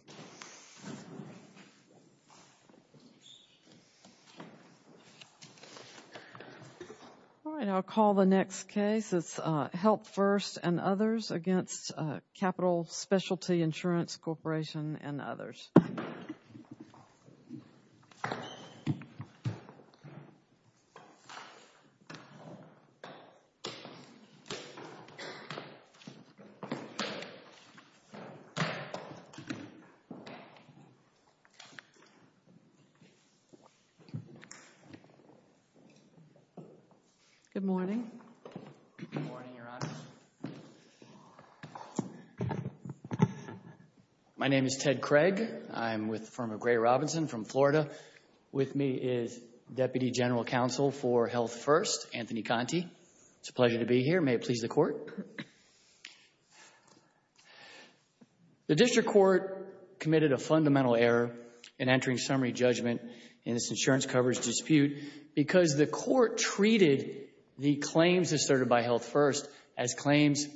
All right, I'll call the next case, it's Help First and Others v. Capitol Specialty Insurance Corp. Good morning. Good morning, Your Honor. My name is Ted Craig. I'm with the firm of Gray Robinson from Florida. With me is Deputy General Counsel for Health First, Anthony Conte. It's a pleasure to be here. May it please the Court. The district court committed a fundamental error in entering summary judgment in this insurance coverage dispute because the court treated the claims asserted by Health First as claims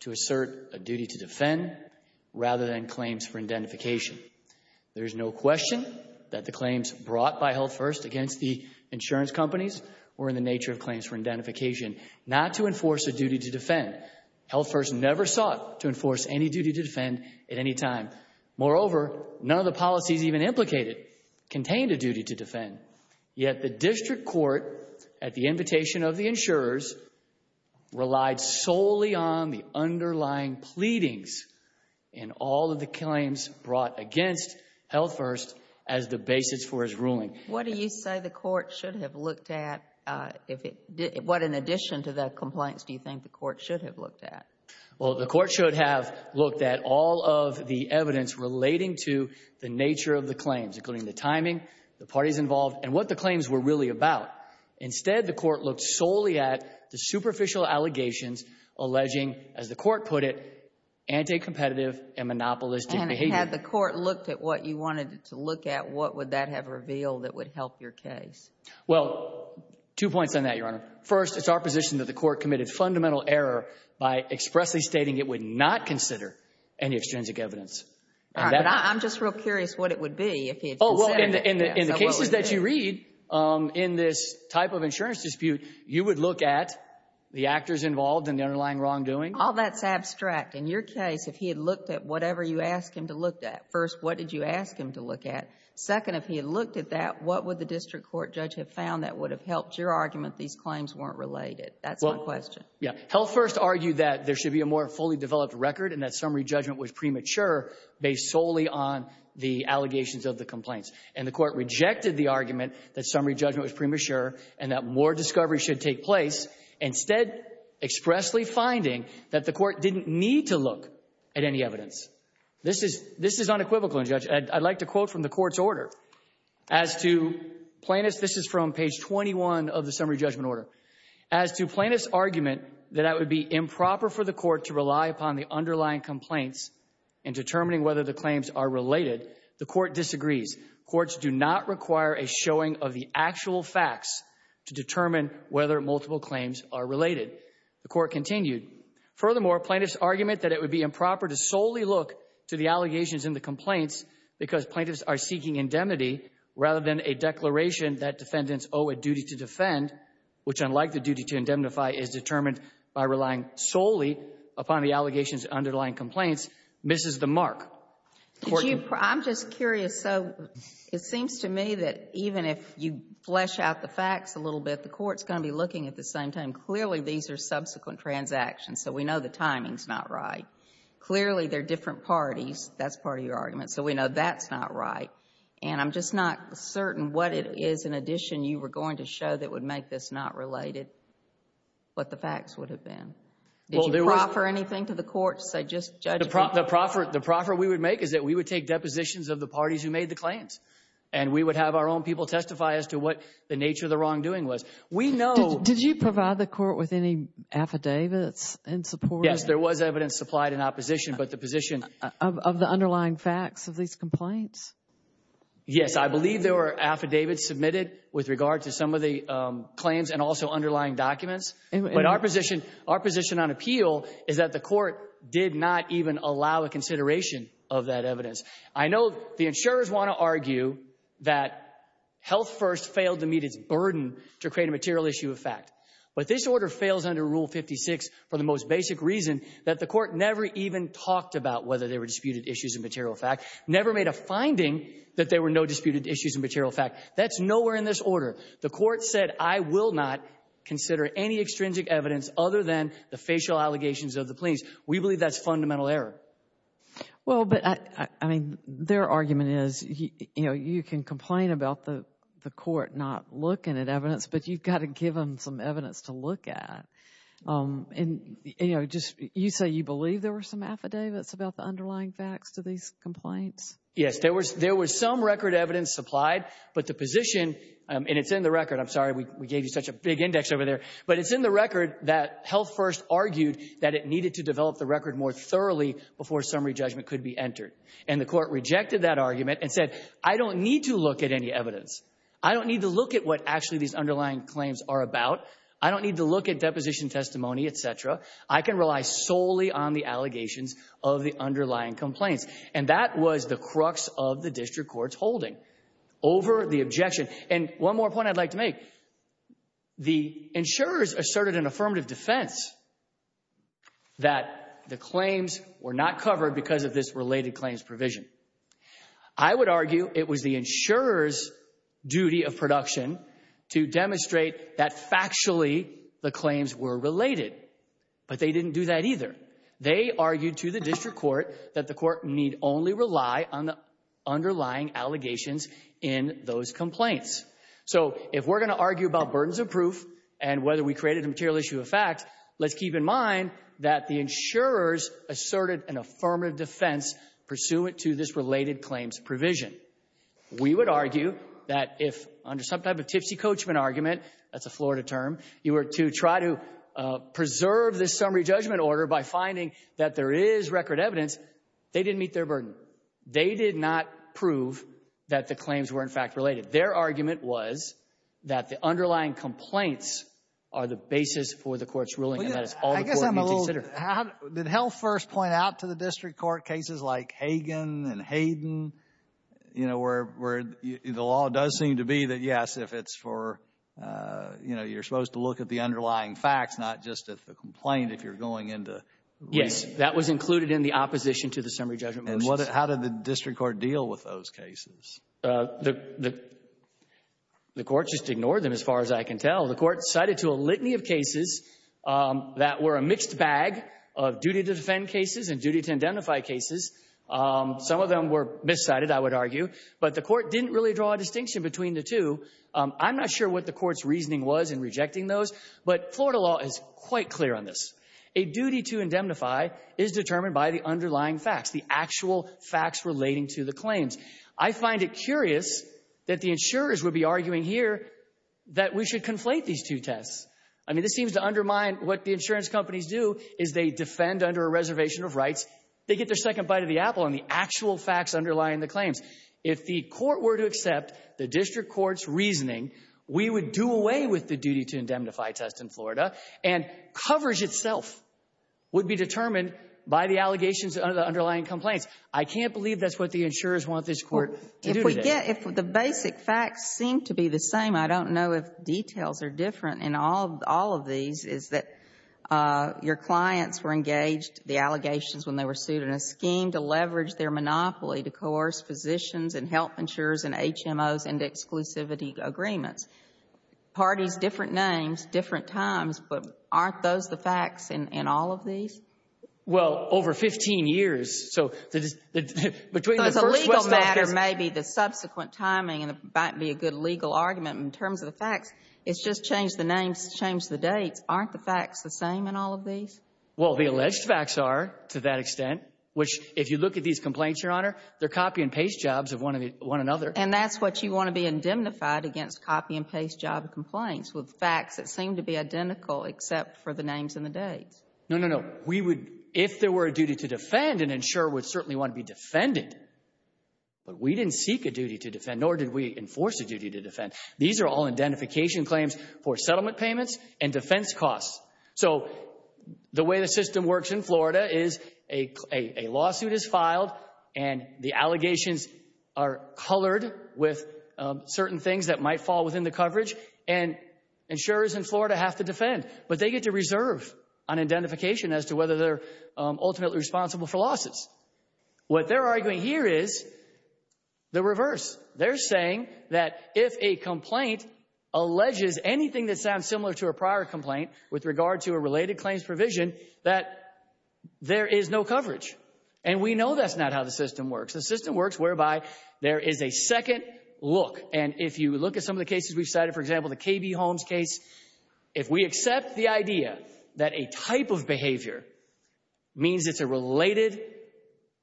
to assert a duty to defend rather than claims for identification. There's no question that the claims brought by Health First against the insurance companies were in the nature of claims for identification, not to enforce a duty to defend. Health First never sought to enforce any duty to defend at any time. Moreover, none of the policies even implicated contained a duty to defend, yet the district court, at the invitation of the insurers, relied solely on the underlying pleadings in all of the claims brought against Health First as the basis for his ruling. What do you say the court should have looked at? What, in addition to the complaints, do you think the court should have looked at? Well, the court should have looked at all of the evidence relating to the nature of the claims, including the timing, the parties involved, and what the claims were really about. Instead, the court looked solely at the superficial allegations alleging, as the court put it, anti-competitive and monopolistic behavior. Had the court looked at what you wanted it to look at, what would that have revealed that would help your case? Well, two points on that, Your Honor. First, it's our position that the court committed fundamental error by expressly stating it would not consider any extrinsic evidence. All right, but I'm just real curious what it would be if he had said that. Oh, well, in the cases that you read, in this type of insurance dispute, you would look at the actors involved and the underlying wrongdoing. All that's abstract. In your case, if he had looked at whatever you asked him to look at, first, what did you ask him to look at? Second, if he had looked at that, what would the district court judge have found that would have helped your argument these claims weren't related? That's my question. Yeah. Health First argued that there should be a more fully developed record and that summary judgment was premature based solely on the allegations of the complaints. And the court rejected the argument that summary judgment was premature and that more discovery should take place, instead expressly finding that the court didn't need to look at any evidence. This is unequivocal in judgment. I'd like to quote from the court's order as to plaintiff's. This is from page 21 of the summary judgment order. As to plaintiff's argument that it would be improper for the court to rely upon the underlying complaints in determining whether the claims are related, the court disagrees. Courts do not require a showing of the actual facts to determine whether multiple claims are related. The court continued. Furthermore, plaintiff's argument that it would be improper to solely look to the allegations in the complaints because plaintiffs are seeking indemnity rather than a declaration that defendants owe a duty to defend, which unlike the duty to indemnify is determined by relying solely upon the allegations underlying complaints, misses the mark. I'm just curious. So it seems to me that even if you flesh out the facts a little bit, the court's going to be looking at the same time. Clearly, these are subsequent transactions. So we know the timing's not right. Clearly, they're different parties. That's part of your argument. So we know that's not right. And I'm just not certain what it is in addition you were going to show that would make this not related, what the facts would have been. Did you proffer anything to the court? So just judge me. The proffer we would make is that we would take depositions of the parties who made the claims. And we would have our own people testify as to what the nature of the wrongdoing was. We know. Did you provide the court with any affidavits in support? Yes, there was evidence supplied in opposition, but the position. Of the underlying facts of these complaints? Yes, I believe there were affidavits submitted with regard to some of the claims and also underlying documents. But our position, our position on appeal is that the court did not even allow a consideration of that evidence. I know the insurers want to argue that Health First failed to meet its burden to create a material issue of fact. But this order fails under Rule 56 for the most basic reason that the court never even talked about whether there were disputed issues of material fact, never made a finding that there were no disputed issues of material fact. That's nowhere in this order. The court said, I will not consider any extrinsic evidence other than the facial allegations of the claims. We believe that's fundamental error. Well, but I mean, their argument is, you know, you can complain about the court not looking at evidence, but you've got to give them some evidence to look at. And, you know, just you say you believe there were some affidavits about the underlying facts to these complaints? Yes, there was some record evidence supplied, but the position, and it's in the record, I'm sorry we gave you such a big index over there, but it's in the record that Health First argued that it needed to develop the record more thoroughly before summary judgment could be entered. And the court rejected that argument and said, I don't need to look at any evidence. I don't need to look at what actually these underlying claims are about. I don't need to look at deposition testimony, et cetera. I can rely solely on the allegations of the underlying complaints. And that was the crux of the district court's holding over the objection. And one more point I'd like to make. The insurers asserted an affirmative defense that the claims were not covered because of this related claims provision. I would argue it was the insurer's duty of production to demonstrate that factually the claims were related, but they didn't do that either. They argued to the district court that the court need only rely on the underlying allegations in those complaints. So if we're going to argue about burdens of proof and whether we created a material issue of facts, let's keep in mind that the insurers asserted an affirmative defense pursuant to this related claims provision. We would argue that if under some type of tipsy coachman argument, that's a Florida term, you were to try to preserve this summary judgment order by finding that there is record evidence, they didn't meet their burden. They did not prove that the claims were in fact related. Their argument was that the underlying complaints are the basis for the court's ruling, and that is all the court needs to consider. I guess I'm a little... Did Heldt first point out to the district court cases like Hagen and Hayden, you know, where the law does seem to be that, yes, if it's for, you know, you're supposed to look at the underlying facts, not just at the complaint if you're going into... Yes, that was included in the opposition to the summary judgment motions. And how did the district court deal with those cases? The court just ignored them as far as I can tell. The court cited to a litany of cases that were a mixed bag of duty to defend cases and duty to indemnify cases. Some of them were miscited, I would argue, but the court didn't really draw a distinction between the two. I'm not sure what the court's reasoning was in rejecting those, but Florida law is quite clear on this. A duty to indemnify is determined by the underlying facts, the actual facts relating to the claims. I find it curious that the insurers would be arguing here that we should conflate these two tests. I mean, this seems to undermine what the insurance companies do, is they defend under a reservation of rights. They get their second bite of the apple on the actual facts underlying the claims. If the court were to accept the district court's reasoning, we would do away with the duty to indemnify test in Florida, and coverage itself would be determined by the allegations of the underlying complaints. I can't believe that's what the insurers want this court to do today. If the basic facts seem to be the same, I don't know if details are different in all of these, is that your clients were engaged, the allegations when they were sued, in a scheme to leverage their monopoly to coerce physicians and health insurers and HMOs and exclusivity agreements. Parties, different names, different times, but aren't those the same? Well, over 15 years, so between the first... So as a legal matter, maybe the subsequent timing might be a good legal argument in terms of the facts. It's just change the names, change the dates. Aren't the facts the same in all of these? Well, the alleged facts are to that extent, which if you look at these complaints, Your Honor, they're copy and paste jobs of one another. And that's what you want to be indemnified against, copy and paste job complaints with facts that seem to be identical except for names and the dates. No, no, no. We would, if there were a duty to defend, an insurer would certainly want to be defended. But we didn't seek a duty to defend, nor did we enforce a duty to defend. These are all identification claims for settlement payments and defense costs. So the way the system works in Florida is a lawsuit is filed and the allegations are colored with certain things that might fall within the coverage, and insurers in Florida have to defend. But they get to reserve an identification as to whether they're ultimately responsible for losses. What they're arguing here is the reverse. They're saying that if a complaint alleges anything that sounds similar to a prior complaint with regard to a related claims provision, that there is no coverage. And we know that's not how the system works. The system works whereby there is a second look. And if you look at some of the cases we've cited, for example, the KB Holmes case, if we accept the idea that a type of behavior means it's a related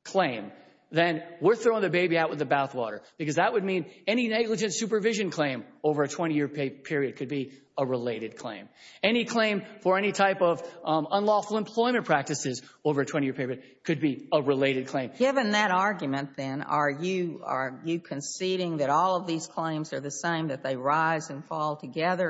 claim, then we're throwing the baby out with the bathwater. Because that would mean any negligent supervision claim over a 20-year period could be a related claim. Any claim for any type of unlawful employment practices over a 20-year period could be a related claim. Given that argument, then, are you conceding that all of these claims are the same, that they rise and fall together?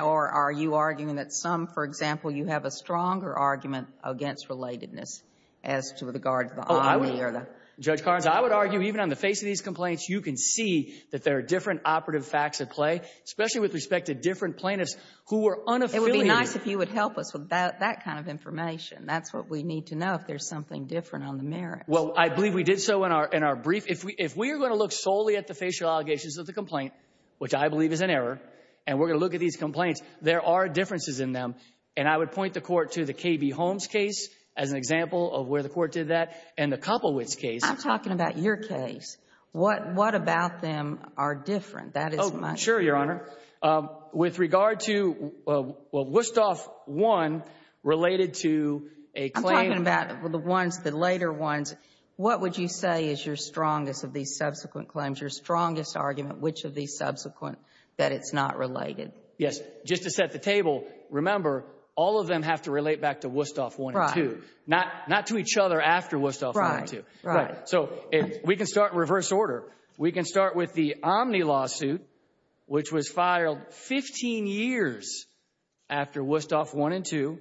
Or are you arguing that some, for example, you have a stronger argument against relatedness as to regard to the irony or the— Judge Carnes, I would argue even on the face of these complaints, you can see that there are different operative facts at play, especially with respect to different plaintiffs who were unaffiliated— It would be nice if you would help us with that kind of information. That's what we need to know, if there's something different on the merits. Well, I believe we did so in our brief. If we are going to look solely at the facial allegations of the complaint, which I believe is an error, and we're going to look at these complaints, there are differences in them. And I would point the Court to the KB Holmes case as an example of where the Court did that, and the Koppelwitz case. I'm talking about your case. What about them are different? That is my— Oh, sure, Your Honor. With regard to, well, Wusthof I related to a claim— I'm talking about the ones, the later ones. What would you say is your strongest of these subsequent that it's not related? Yes. Just to set the table, remember, all of them have to relate back to Wusthof I and II, not to each other after Wusthof I and II. Right, right. So, we can start in reverse order. We can start with the Omni lawsuit, which was filed 15 years after Wusthof I and II.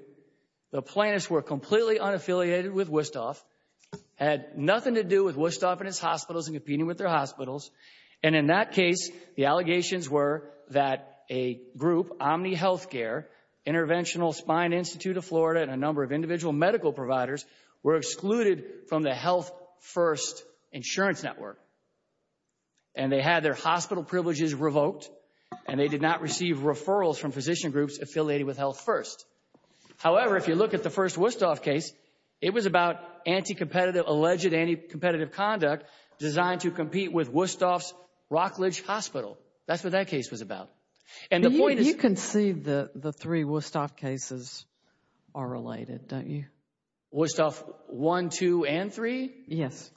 The plaintiffs were completely unaffiliated with Wusthof, had nothing to do with Wusthof and his hospitals and competing with their hospitals, and in that case, the allegations were that a group, Omni Healthcare, Interventional Spine Institute of Florida, and a number of individual medical providers were excluded from the Health First insurance network, and they had their hospital privileges revoked, and they did not receive referrals from physician groups affiliated with Health First. However, if you look at the first Wusthof case, it was about anti-competitive, alleged anti-competitive conduct designed to Rockledge Hospital. That's what that case was about, and the point is... You can see that the three Wusthof cases are related, don't you? Wusthof I, II, and III? Yes.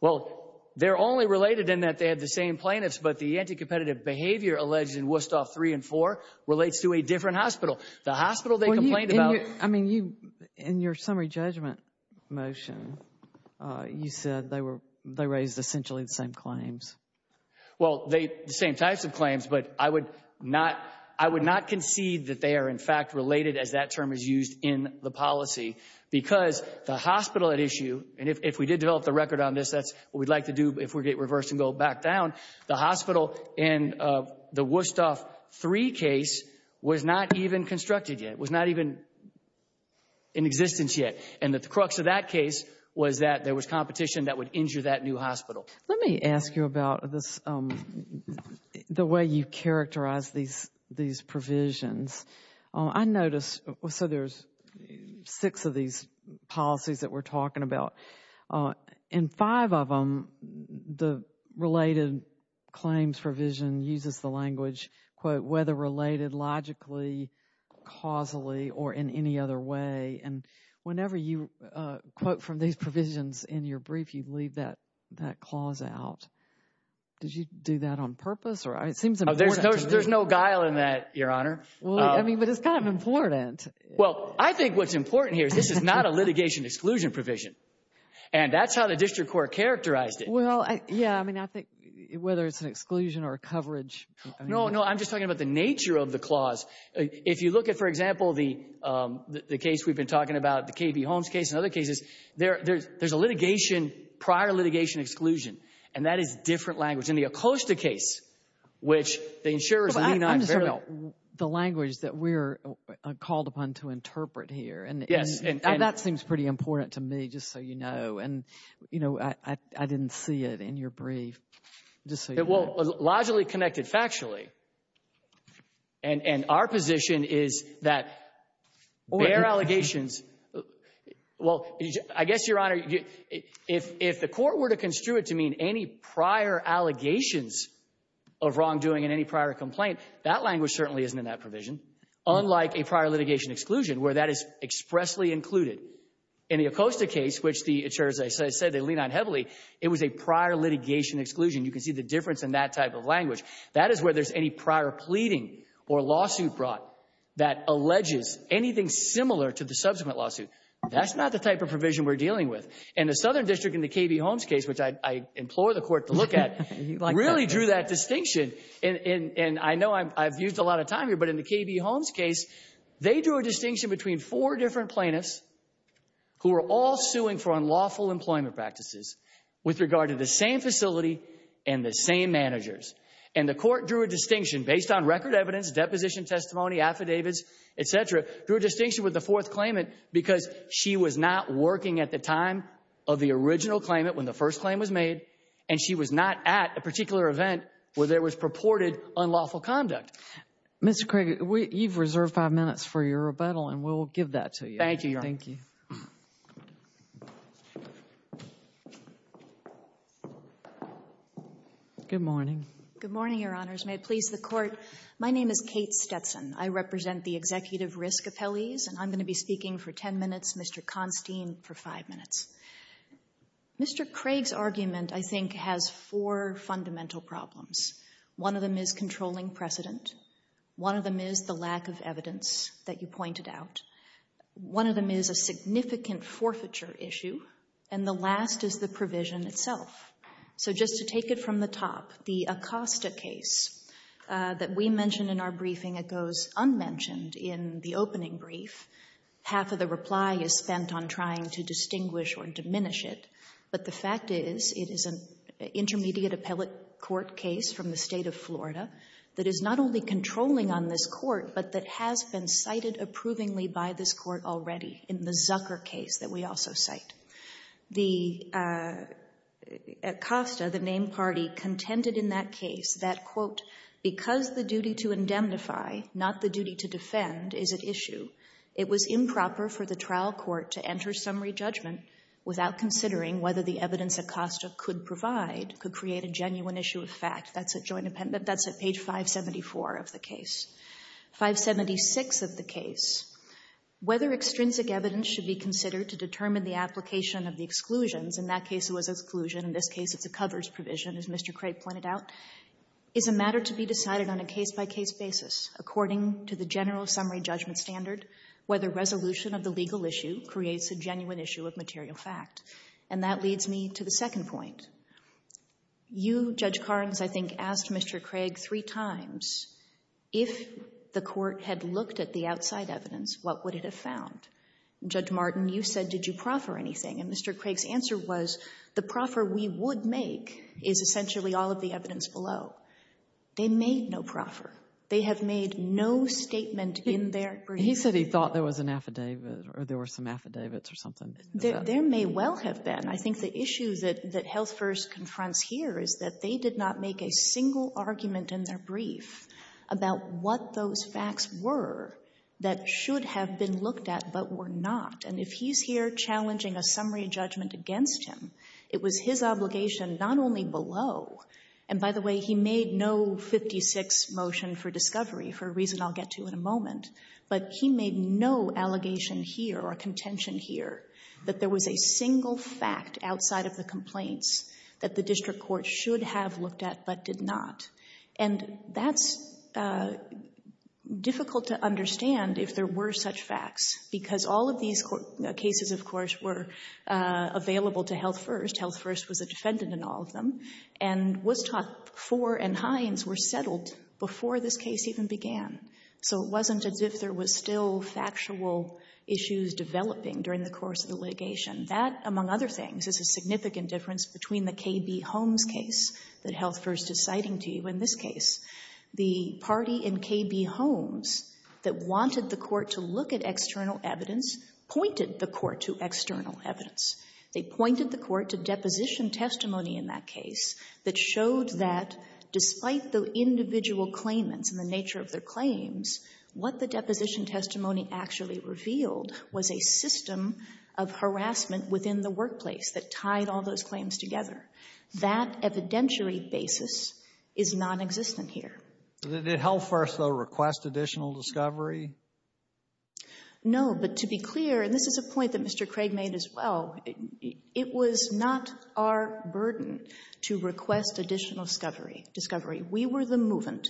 Well, they're only related in that they had the same plaintiffs, but the anti-competitive behavior alleged in Wusthof III and IV relates to a different hospital. The hospital they complained about... I mean, in your summary judgment motion, you said they raised essentially the same claims. Well, the same types of claims, but I would not concede that they are in fact related, as that term is used in the policy, because the hospital at issue, and if we did develop the record on this, that's what we'd like to do if we get reversed and go back down, the hospital in the Wusthof III case was not even constructed yet. It was not even in existence yet, and that the crux of that case was that there was competition that would injure that new hospital. Let me ask you about the way you characterize these provisions. I noticed... So there's six of these policies that we're talking about, and five of them, the related claims provision uses the language, quote, whether related logically, causally, or in any other way, and whenever you quote from these provisions in your brief, you leave that clause out. Did you do that on purpose? It seems important to me. There's no guile in that, Your Honor. I mean, but it's kind of important. Well, I think what's important here is this is not a litigation exclusion provision, and that's how the district court characterized it. Well, yeah. I mean, I think whether it's an exclusion or a coverage... No, no. I'm just talking about the nature of the clause. If you look at, for example, the case we've been talking about, the KB Holmes case and other cases, there's a litigation, prior litigation exclusion, and that is different language. In the Acosta case, which the insurers... I'm just talking about the language that we're called upon to interpret here, and that seems pretty important to me, just so you know, and I didn't see it in your brief, just so you know. Logically connected factually, and our position is that their allegations... Well, I guess, Your Honor, if the court were to construe it to mean any prior allegations of wrongdoing in any prior complaint, that language certainly isn't in that provision, unlike a prior litigation exclusion, where that is expressly included. In the Acosta case, which the insurers, as I said, they lean on heavily, it was a prior litigation exclusion. You can see the difference in that type of language. That is where there's any prior pleading or lawsuit brought that alleges anything similar to the subsequent lawsuit. That's not the type of provision we're dealing with. In the Southern District, in the KB Holmes case, which I implore the court to look at, really drew that distinction, and I know I've used a lot of time here, but in the KB Holmes case, they drew a distinction between four different plaintiffs who are all suing for unlawful employment practices with regard to the same facility and the same managers, and the court drew a distinction based on record evidence, deposition testimony, affidavits, etc., drew a distinction with the fourth claimant because she was not working at the time of the original claimant when the first claim was made, and she was not at a particular event where there was purported unlawful conduct. Mr. Craig, you've reserved five minutes for your rebuttal, and we'll give that to you. Thank you, Your Honor. Thank you. Good morning. Good morning, Your Honors. May it please the court, my name is Kate Stetson. I represent the executive risk appellees, and I'm going to be speaking for 10 minutes, Mr. Constine for five minutes. Mr. Craig's argument, I think, has four fundamental problems. One of them is controlling precedent. One of them is the lack of evidence that you pointed out. One of them is a significant forfeiture issue. And the last is the provision itself. So just to take it from the top, the Acosta case that we mentioned in our briefing, it goes unmentioned in the opening brief. Half of the reply is spent on trying to distinguish or diminish it, but the fact is it is an intermediate appellate court case from the State of Florida that is not only controlling on this court, but that has been cited approvingly by this court already in the Zucker case that we also cite. The Acosta, the named party, contended in that case that, quote, because the duty to indemnify, not the duty to defend, is at issue, it was improper for the trial court to enter summary judgment without considering whether the evidence Acosta could provide could create a genuine issue of fact. That's at Joint Appendment. That's at page 574 of the case. 576 of the case, whether extrinsic evidence should be considered to determine the application of the exclusions, in that case it was exclusion, in this case it's a covers provision, as Mr. Craig pointed out, is a matter to be decided on a case-by-case basis according to the general summary judgment standard, whether resolution of the legal issue creates a genuine issue of material fact. And that leads me to the second point. You, Judge Carnes, I think, asked Mr. Craig three times, if the court had looked at the outside evidence, what would it have found? Judge Martin, you said, did you proffer anything? And Mr. Craig's answer was, the proffer we would make is essentially all of the evidence below. They made no proffer. They have made no statement in their brief. He said he thought there was an affidavit, or there were some affidavits or something. There may well have been. I think the issue that Health First confronts here is that they did not make a single argument in their brief about what those facts were that should have been looked at but were not. And if he's here challenging a summary judgment against him, it was his obligation not only below, and by the way, he made no 56 motion for discovery, for a reason I'll get to in a moment, but he made no allegation here or contention here that there was a single fact outside of the complaints that the district court should have looked at but did not. And that's difficult to understand if there were such facts because all of these cases, of course, were available to Health First. Health First was a defendant in all of them and Woodstock 4 and Hines were settled before this case even began. So it wasn't as if there was still factual issues developing during the course of the litigation. That, among other things, is a significant difference between the KB Holmes case that Health First is citing to you in this case. The party in KB Holmes that wanted the court to look at external evidence pointed the court to external evidence. They pointed the court to deposition testimony in that case that showed that despite the individual claimants and the nature of their claims, what the deposition testimony actually revealed was a system of harassment within the workplace that tied all those claims together. That evidentiary basis is non-existent here. Did Health First, though, request additional discovery? No, but to be clear, and this is a point that Mr. Craig made as well, it was not our burden to request additional discovery. We were the movement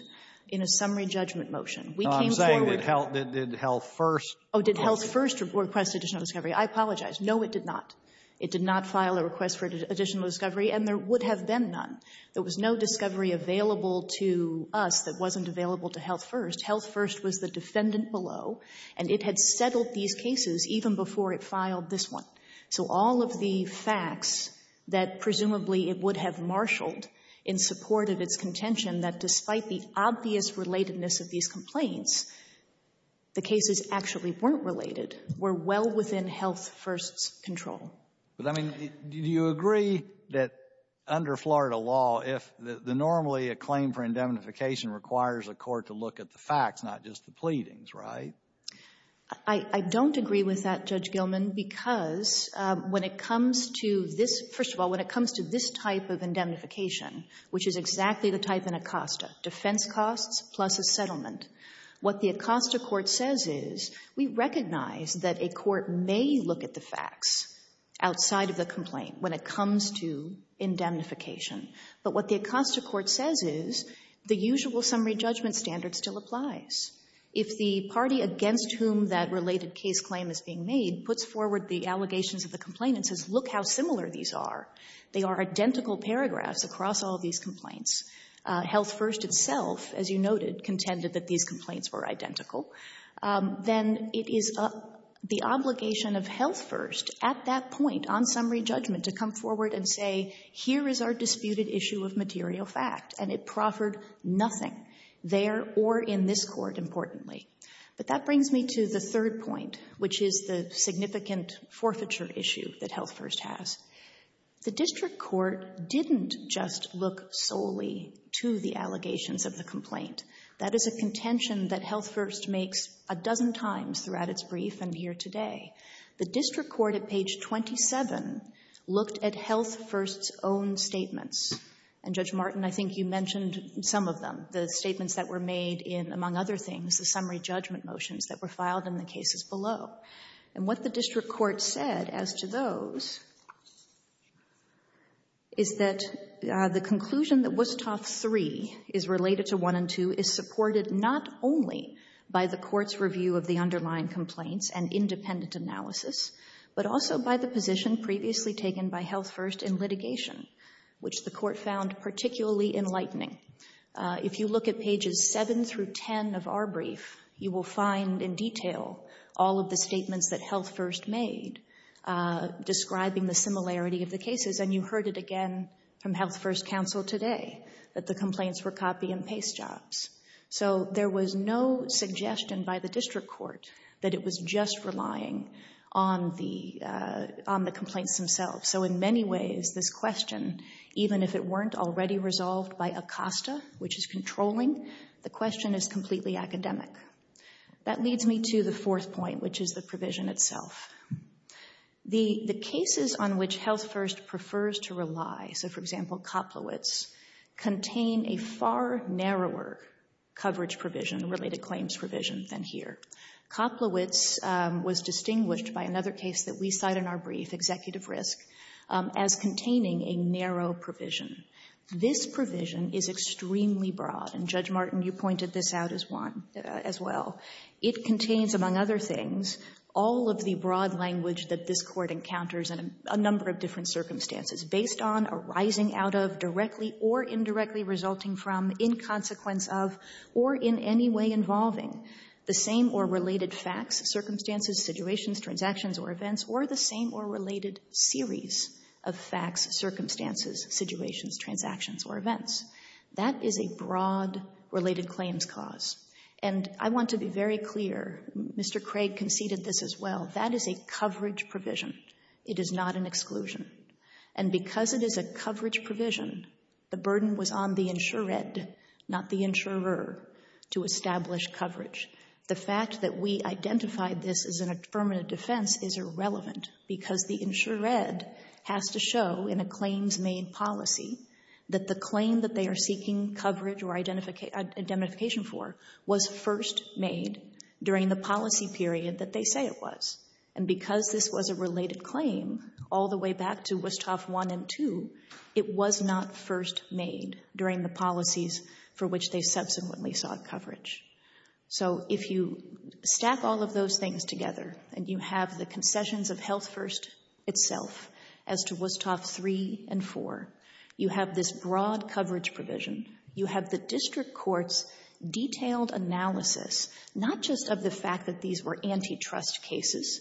in a summary judgment motion. No, I'm saying did Health First request additional discovery? I apologize. No, it did not. It did not file a request for additional discovery, and there would have been none. There was no discovery available to us that wasn't available to Health First. Health First was the defendant below, and it had settled these cases even before it filed this one. So all of the facts that presumably it would have marshaled in support of its contention that despite the obvious relatedness of these complaints, the cases actually weren't related, were well within Health First's control. But, I mean, do you agree that under Florida law, if normally a claim for indemnification requires a court to look at the facts, not just the pleadings, right? I don't agree with that, Judge Gilman, because when it comes to this, first of all, when it comes to this type of indemnification, which is exactly the type in Acosta, defense costs plus a settlement, what the Acosta court says is, we recognize that a court may look at the facts outside of the complaint when it comes to indemnification. But what the Acosta court says is, the usual summary judgment standard still applies. If the party against whom that related case claim is being made puts forward the allegations of the complainant, says, look how similar these are. They are identical paragraphs across all these complaints. Health First itself, as you noted, contended that these complaints were identical. Then it is the obligation of Health First at that point on summary judgment to come forward and say, here is our disputed issue of material fact. And it proffered nothing there or in this court, importantly. But that brings me to the third point, which is the significant forfeiture issue that Health First has. The district court didn't just look solely to the allegations of the complaint. That is a contention that Health First makes a dozen times throughout its brief and here today. The district court at page 27 looked at Health First's own statements. And Judge Martin, I think you mentioned some of them, the statements that were made in, among other things, the summary judgment motions that were filed in the cases below. And what the district court said as to those is that the conclusion that Wusthof III is related to I and II is supported not only by the court's review of the underlying complaints and independent analysis, but also by the position previously taken by Health First in litigation, which the court found particularly enlightening. If you look at pages 7 through 10 of our brief, you will find in detail all of the statements that Health First made describing the similarity of the cases. And you heard it again from Health First counsel today that the complaints were copy and paste jobs. So there was no suggestion by the district court that it was just relying on the complaints themselves. So in many ways, this question, even if it weren't already resolved by ACOSTA, which is controlling, the question is completely academic. That leads me to the fourth point, which is the provision itself. The cases on which Health First prefers to rely, so for example, Koplowitz, contain a far narrower coverage provision, related claims provision, than here. Koplowitz was distinguished by another case that we cite in our brief, executive risk, as containing a narrow provision. This provision is extremely broad. And Judge Martin, you pointed this out as well. It contains, among other things, all of the broad language that this court encounters in a number of different circumstances. Based on, arising out of, directly or indirectly resulting from, in consequence of, or in any way involving, the same or related facts, circumstances, situations, transactions, or events, or the same or related series of facts, circumstances, situations, transactions, or events. That is a broad related claims cause. And I want to be very clear, Mr. Craig conceded this as well, that is a coverage provision. It is not an exclusion. And because it is a coverage provision, the burden was on the insured, not the insurer, to establish coverage. The fact that we identified this as an affirmative defense is irrelevant, because the insured has to show in a claims made policy, that the claim that they are seeking coverage or identification for, was first made during the policy period that they say it was. And because this was a related claim, all the way back to Westhoff 1 and 2, it was not first made during the policies for which they subsequently sought coverage. So if you stack all of those things together, and you have the concessions of Health First itself, as to Westhoff 3 and 4, you have this broad coverage provision, you have the district court's detailed analysis, not just of the fact that these were antitrust cases,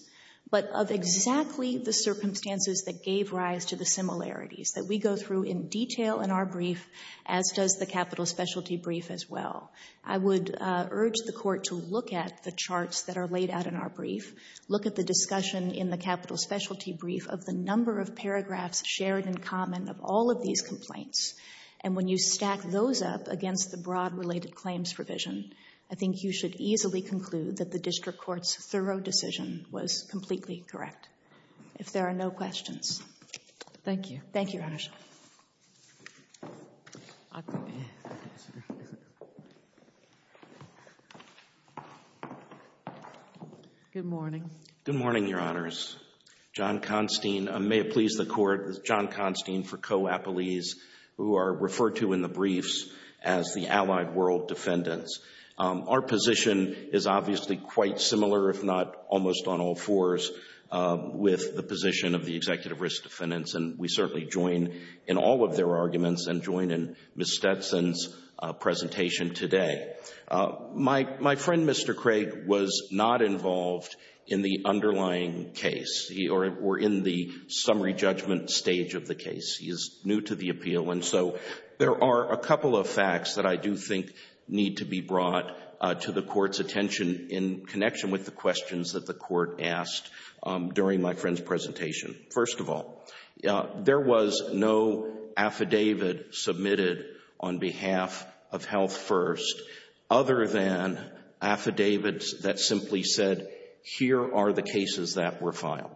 but of exactly the circumstances that gave rise to the similarities, that we go through in detail in our brief, as does the capital specialty brief as well. I would urge the court to look at the charts that are laid out in our brief, look at the discussion in the capital specialty brief of the number of paragraphs shared in common of all of these complaints. And when you stack those up against the broad related claims provision, I think you should easily conclude that the district court's thorough decision was completely correct. If there are no questions. Thank you. Thank you, Your Honor. Good morning. Good morning, Your Honors. John Constine, may it please the court, John Constine for Co-Appellees, who are referred to in the briefs as the allied world defendants. Our position is obviously quite similar, if not almost on all fours, with the position of the executive risk defendants. And we certainly join in all of their arguments and join in Ms. Stetson's presentation today. My friend, Mr. Craig, was not involved in the underlying case, or in the summary judgment stage of the case. He is new to the appeal. And so there are a couple of facts that I do think need to be brought to the court's attention in connection with the questions that the court asked during my friend's presentation. First of all, there was no affidavit submitted on behalf of Health First other than affidavits that simply said, here are the cases that were filed.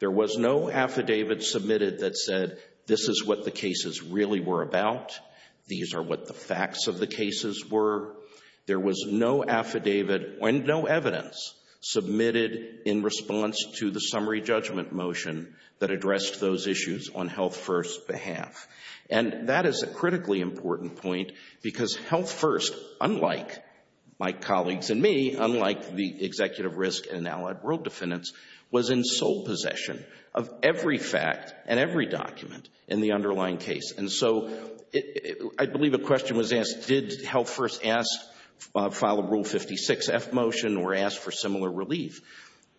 There was no affidavit submitted that said, this is what the cases really were about. These are what the facts of the cases were. There was no affidavit and no evidence submitted in response to the summary judgment motion that addressed those issues on Health First's behalf. And that is a critically important point because Health First, unlike my colleagues and me, unlike the executive risk and allied world defendants, was in sole possession of every fact and every document in the underlying case. And so I believe a question was asked, did Health First file a Rule 56-F motion or ask for similar relief?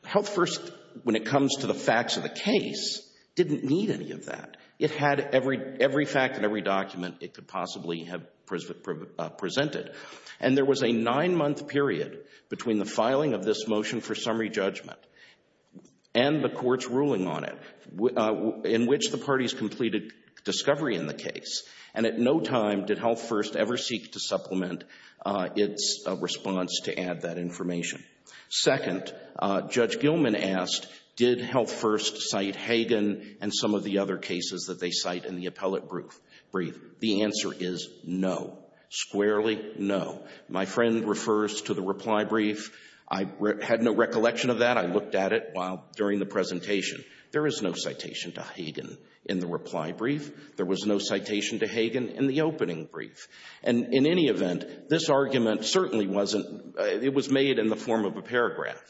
Health First, when it comes to the facts of the case, didn't need any of that. It had every fact and every document it could possibly have presented. And there was a nine-month period between the filing of this motion for summary judgment and the court's ruling on it in which the parties completed discovery in the case. And at no time did Health First ever seek to supplement its response to add that information. Second, Judge Gilman asked, did Health First cite Hagan and some of the other cases that they cite in the appellate brief? The answer is no. Squarely, no. My friend refers to the reply brief. I looked at it while during the presentation. There is no citation to Hagan in the reply brief. There was no citation to Hagan in the opening brief. And in any event, this argument certainly wasn't, it was made in the form of a paragraph.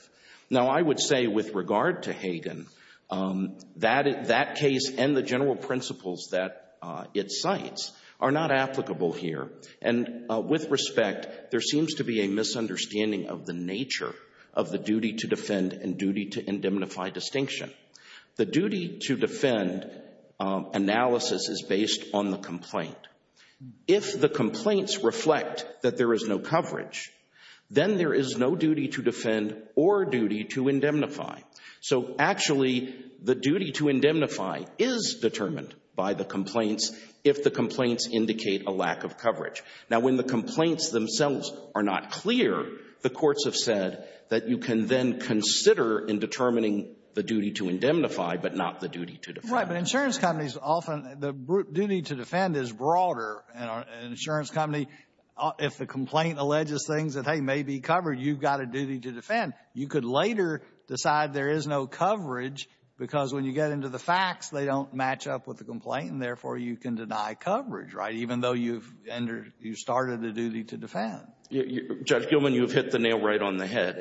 Now, I would say with regard to Hagan, that case and the general principles that it cites are not applicable here. And with respect, there seems to be a misunderstanding of the nature of the duty to defend and duty to indemnify distinction. The duty to defend analysis is based on the complaint. If the complaints reflect that there is no coverage, then there is no duty to defend or duty to indemnify. So actually, the duty to indemnify is determined by the complaints if the complaints indicate a lack of coverage. Now, when the complaints themselves are not clear, the courts have said that you can then consider indetermining the duty to indemnify, but not the duty to defend. Right. But insurance companies often, the duty to defend is broader. And an insurance company, if the complaint alleges things that, hey, may be covered, you've got a duty to defend. You could later decide there is no coverage because when you get into the facts, they don't match up with the complaint. And therefore, you can deny coverage, right, even though you've entered, you started the duty to defend. Judge Gilman, you've hit the nail right on the head.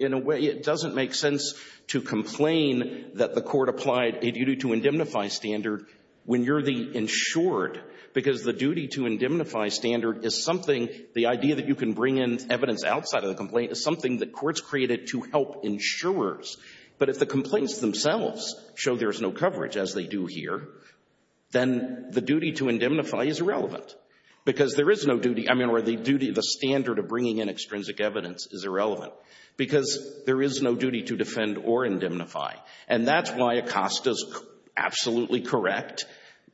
In a way, it doesn't make sense to complain that the court applied a duty to indemnify standard when you're the insured, because the duty to indemnify standard is something, the idea that you can bring in evidence outside of the complaint is something that courts created to help insurers. But if the complaints themselves show there's no coverage, as they do here, then the duty to indemnify is irrelevant because there is no duty, I mean, or the duty, the standard of bringing in because there is no duty to defend or indemnify. And that's why Acosta's absolutely correct.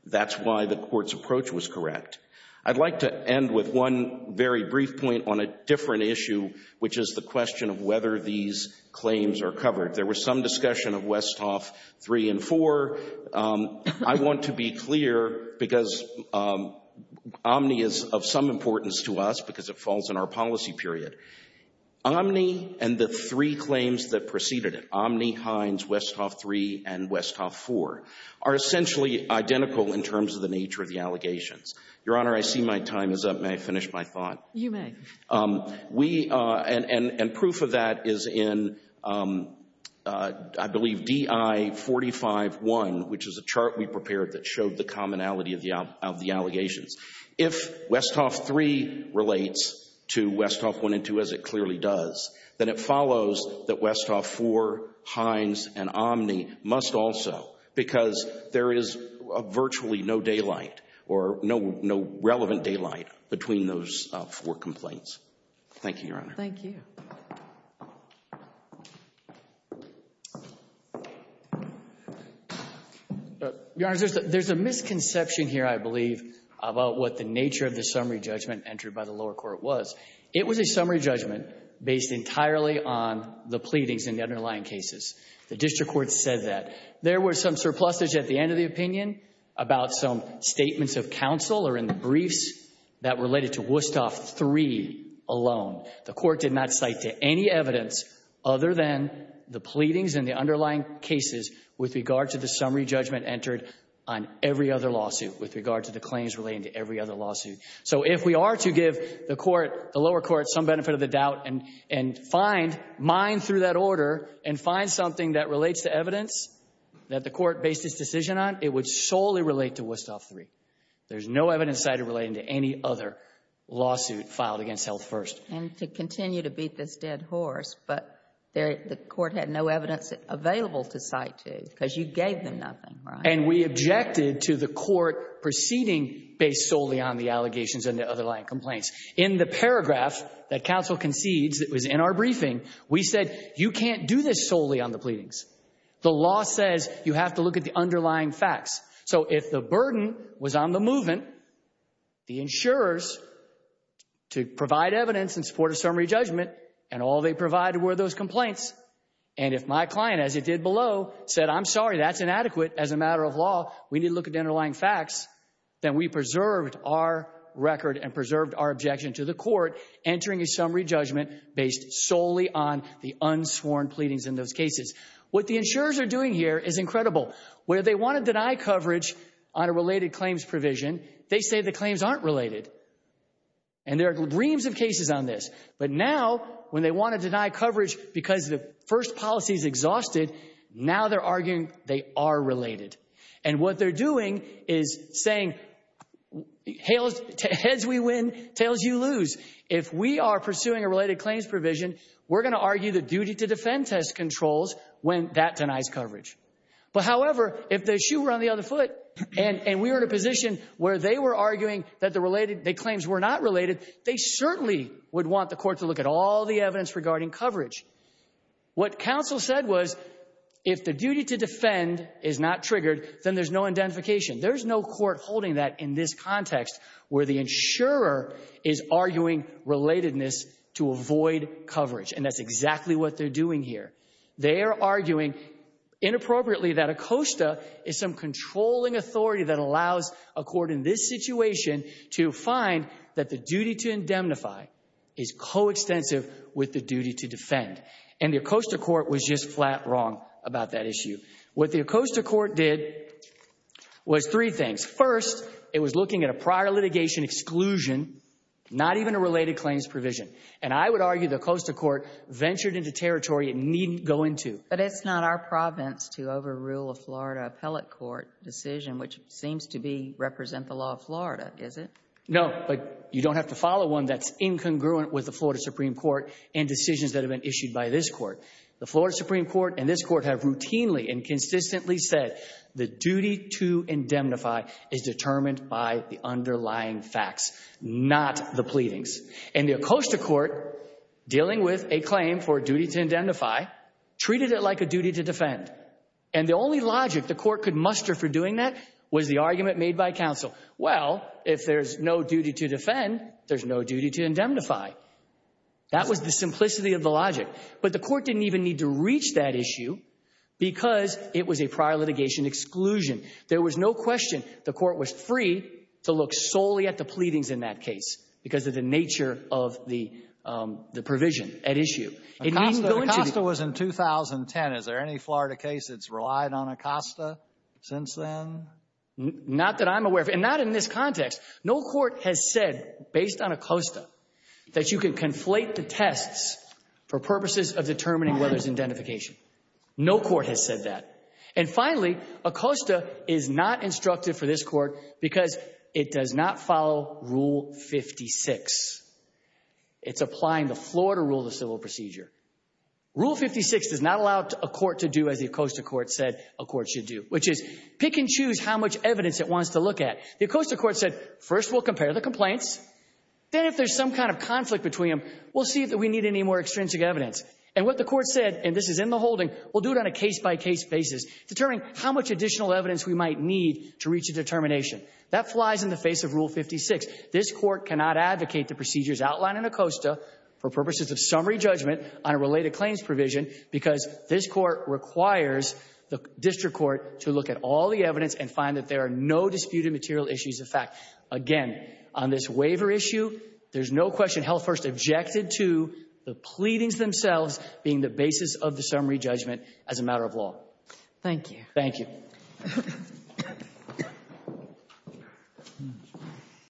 That's why the court's approach was correct. I'd like to end with one very brief point on a different issue, which is the question of whether these claims are covered. There was some discussion of Westhoff 3 and 4. I want to be clear because Omni is of some importance to us because it falls in our policy period. Omni and the three claims that preceded it, Omni, Hines, Westhoff 3, and Westhoff 4 are essentially identical in terms of the nature of the allegations. Your Honor, I see my time is up. May I finish my thought? You may. We, and proof of that is in, I believe, DI 45-1, which is a chart we prepared that showed the commonality of the allegations. If Westhoff 3 relates to Westhoff 1 and 2, as it clearly does, then it follows that Westhoff 4, Hines, and Omni must also because there is virtually no daylight or no relevant daylight between those four complaints. Thank you, Your Honor. Thank you. Your Honor, there's a misconception here, I believe, about what the nature of the summary judgment entered by the lower court was. It was a summary judgment based entirely on the pleadings in the underlying cases. The district court said that. There were some surpluses at the end of the opinion about some statements of counsel or in the briefs that related to Westhoff 3 alone. The court did not cite to any evidence other than the pleadings in the underlying cases with regard to the summary judgment entered on every other lawsuit, with regard to the claims relating to every other lawsuit. So if we are to give the lower court some benefit of the doubt and mine through that order and find something that relates to evidence that the court based its decision on, it would solely relate to Westhoff 3. There's no evidence cited relating to any other lawsuit filed against Health First. And to continue to beat this dead horse, but the court had no evidence available to cite to because you gave them nothing, right? And we objected to the court proceeding based solely on the allegations and the underlying complaints. In the paragraph that counsel concedes that was in our briefing, we said you can't do this solely on the pleadings. The law says you have to look at the underlying facts. So if the burden was on the movement, the insurers to provide evidence in support of summary judgment and all they provided were those complaints. And if my client, as it did below, said, I'm sorry, that's inadequate as a matter of law, we need to look at the underlying facts, then we preserved our record and preserved our objection to the court entering a summary judgment based solely on the unsworn pleadings in those cases. What the insurers are doing here is incredible. Where they want to deny coverage on a related claims provision, they say the claims aren't related. And there are reams of cases on this. But now when they want to deny coverage because the first policy is exhausted, now they're arguing they are related. And what they're doing is saying, heads we win, tails you lose. If we are pursuing a related claims provision, we're going to argue the duty to defend test controls when that denies coverage. But however, if the shoe were on the other foot and we were in a position where they were arguing that the claims were not related, they certainly would want the court to look at all the evidence regarding coverage. What counsel said was, if the duty to defend is not triggered, then there's no identification. There's no court holding that in this context where the insurer is arguing relatedness to avoid coverage. And that's exactly what they're doing here. They are arguing inappropriately that ACOSTA is some controlling authority that allows a court in this situation to find that the duty to indemnify is coextensive with the duty to defend. And the ACOSTA court was just flat wrong about that issue. What the ACOSTA court did was three things. First, it was looking at a prior litigation exclusion, not even a related claims provision. And I would argue the ACOSTA court ventured into territory it needn't go into. But it's not our province to overrule a Florida appellate court decision, which seems to be represent the law of Florida, is it? No, but you don't have to follow one that's incongruent with the Florida Supreme Court and decisions that have been issued by this court. The Florida Supreme Court and this court have routinely and consistently said the duty to indemnify is determined by the underlying facts, not the pleadings. And the ACOSTA court dealing with a claim for duty to indemnify treated it like a duty to defend. And the only logic the court could muster for doing that was the argument made by counsel. Well, if there's no duty to defend, there's no duty to indemnify. That was the simplicity of the logic. But the court didn't even need to reach that issue because it was a prior litigation exclusion. There was no question the court was free to look solely at the pleadings in that case because of the nature of the provision at issue. It needn't go into the — ACOSTA was in 2010. Is there any Florida case that's relied on ACOSTA since then? Not that I'm aware of. And not in this context. No court has said, based on ACOSTA, that you can conflate the tests for purposes of determining whether there's identification. No court has said that. And finally, ACOSTA is not instructed for this court because it does not follow Rule 56. It's applying the Florida Rule of Civil Procedure. Rule 56 does not allow a court to do as the ACOSTA court said a court should do, which is pick and choose how much evidence it wants to look at. The ACOSTA court said, first, we'll compare the complaints. Then if there's some kind of conflict between them, we'll see if we need any more extrinsic evidence. And what the court said, and this is in the holding, we'll do it on a case-by-case basis, determining how much additional evidence we might need to reach a determination. That flies in the face of Rule 56. This court cannot advocate the procedures outlined in ACOSTA for purposes of summary judgment on a related claims provision because this court requires the district court to look at all the evidence and find that there are no disputed material issues of fact. Again, on this waiver issue, there's no question Health First objected to the pleadings themselves being the basis of the summary judgment as a matter of law. Thank you. Thank you.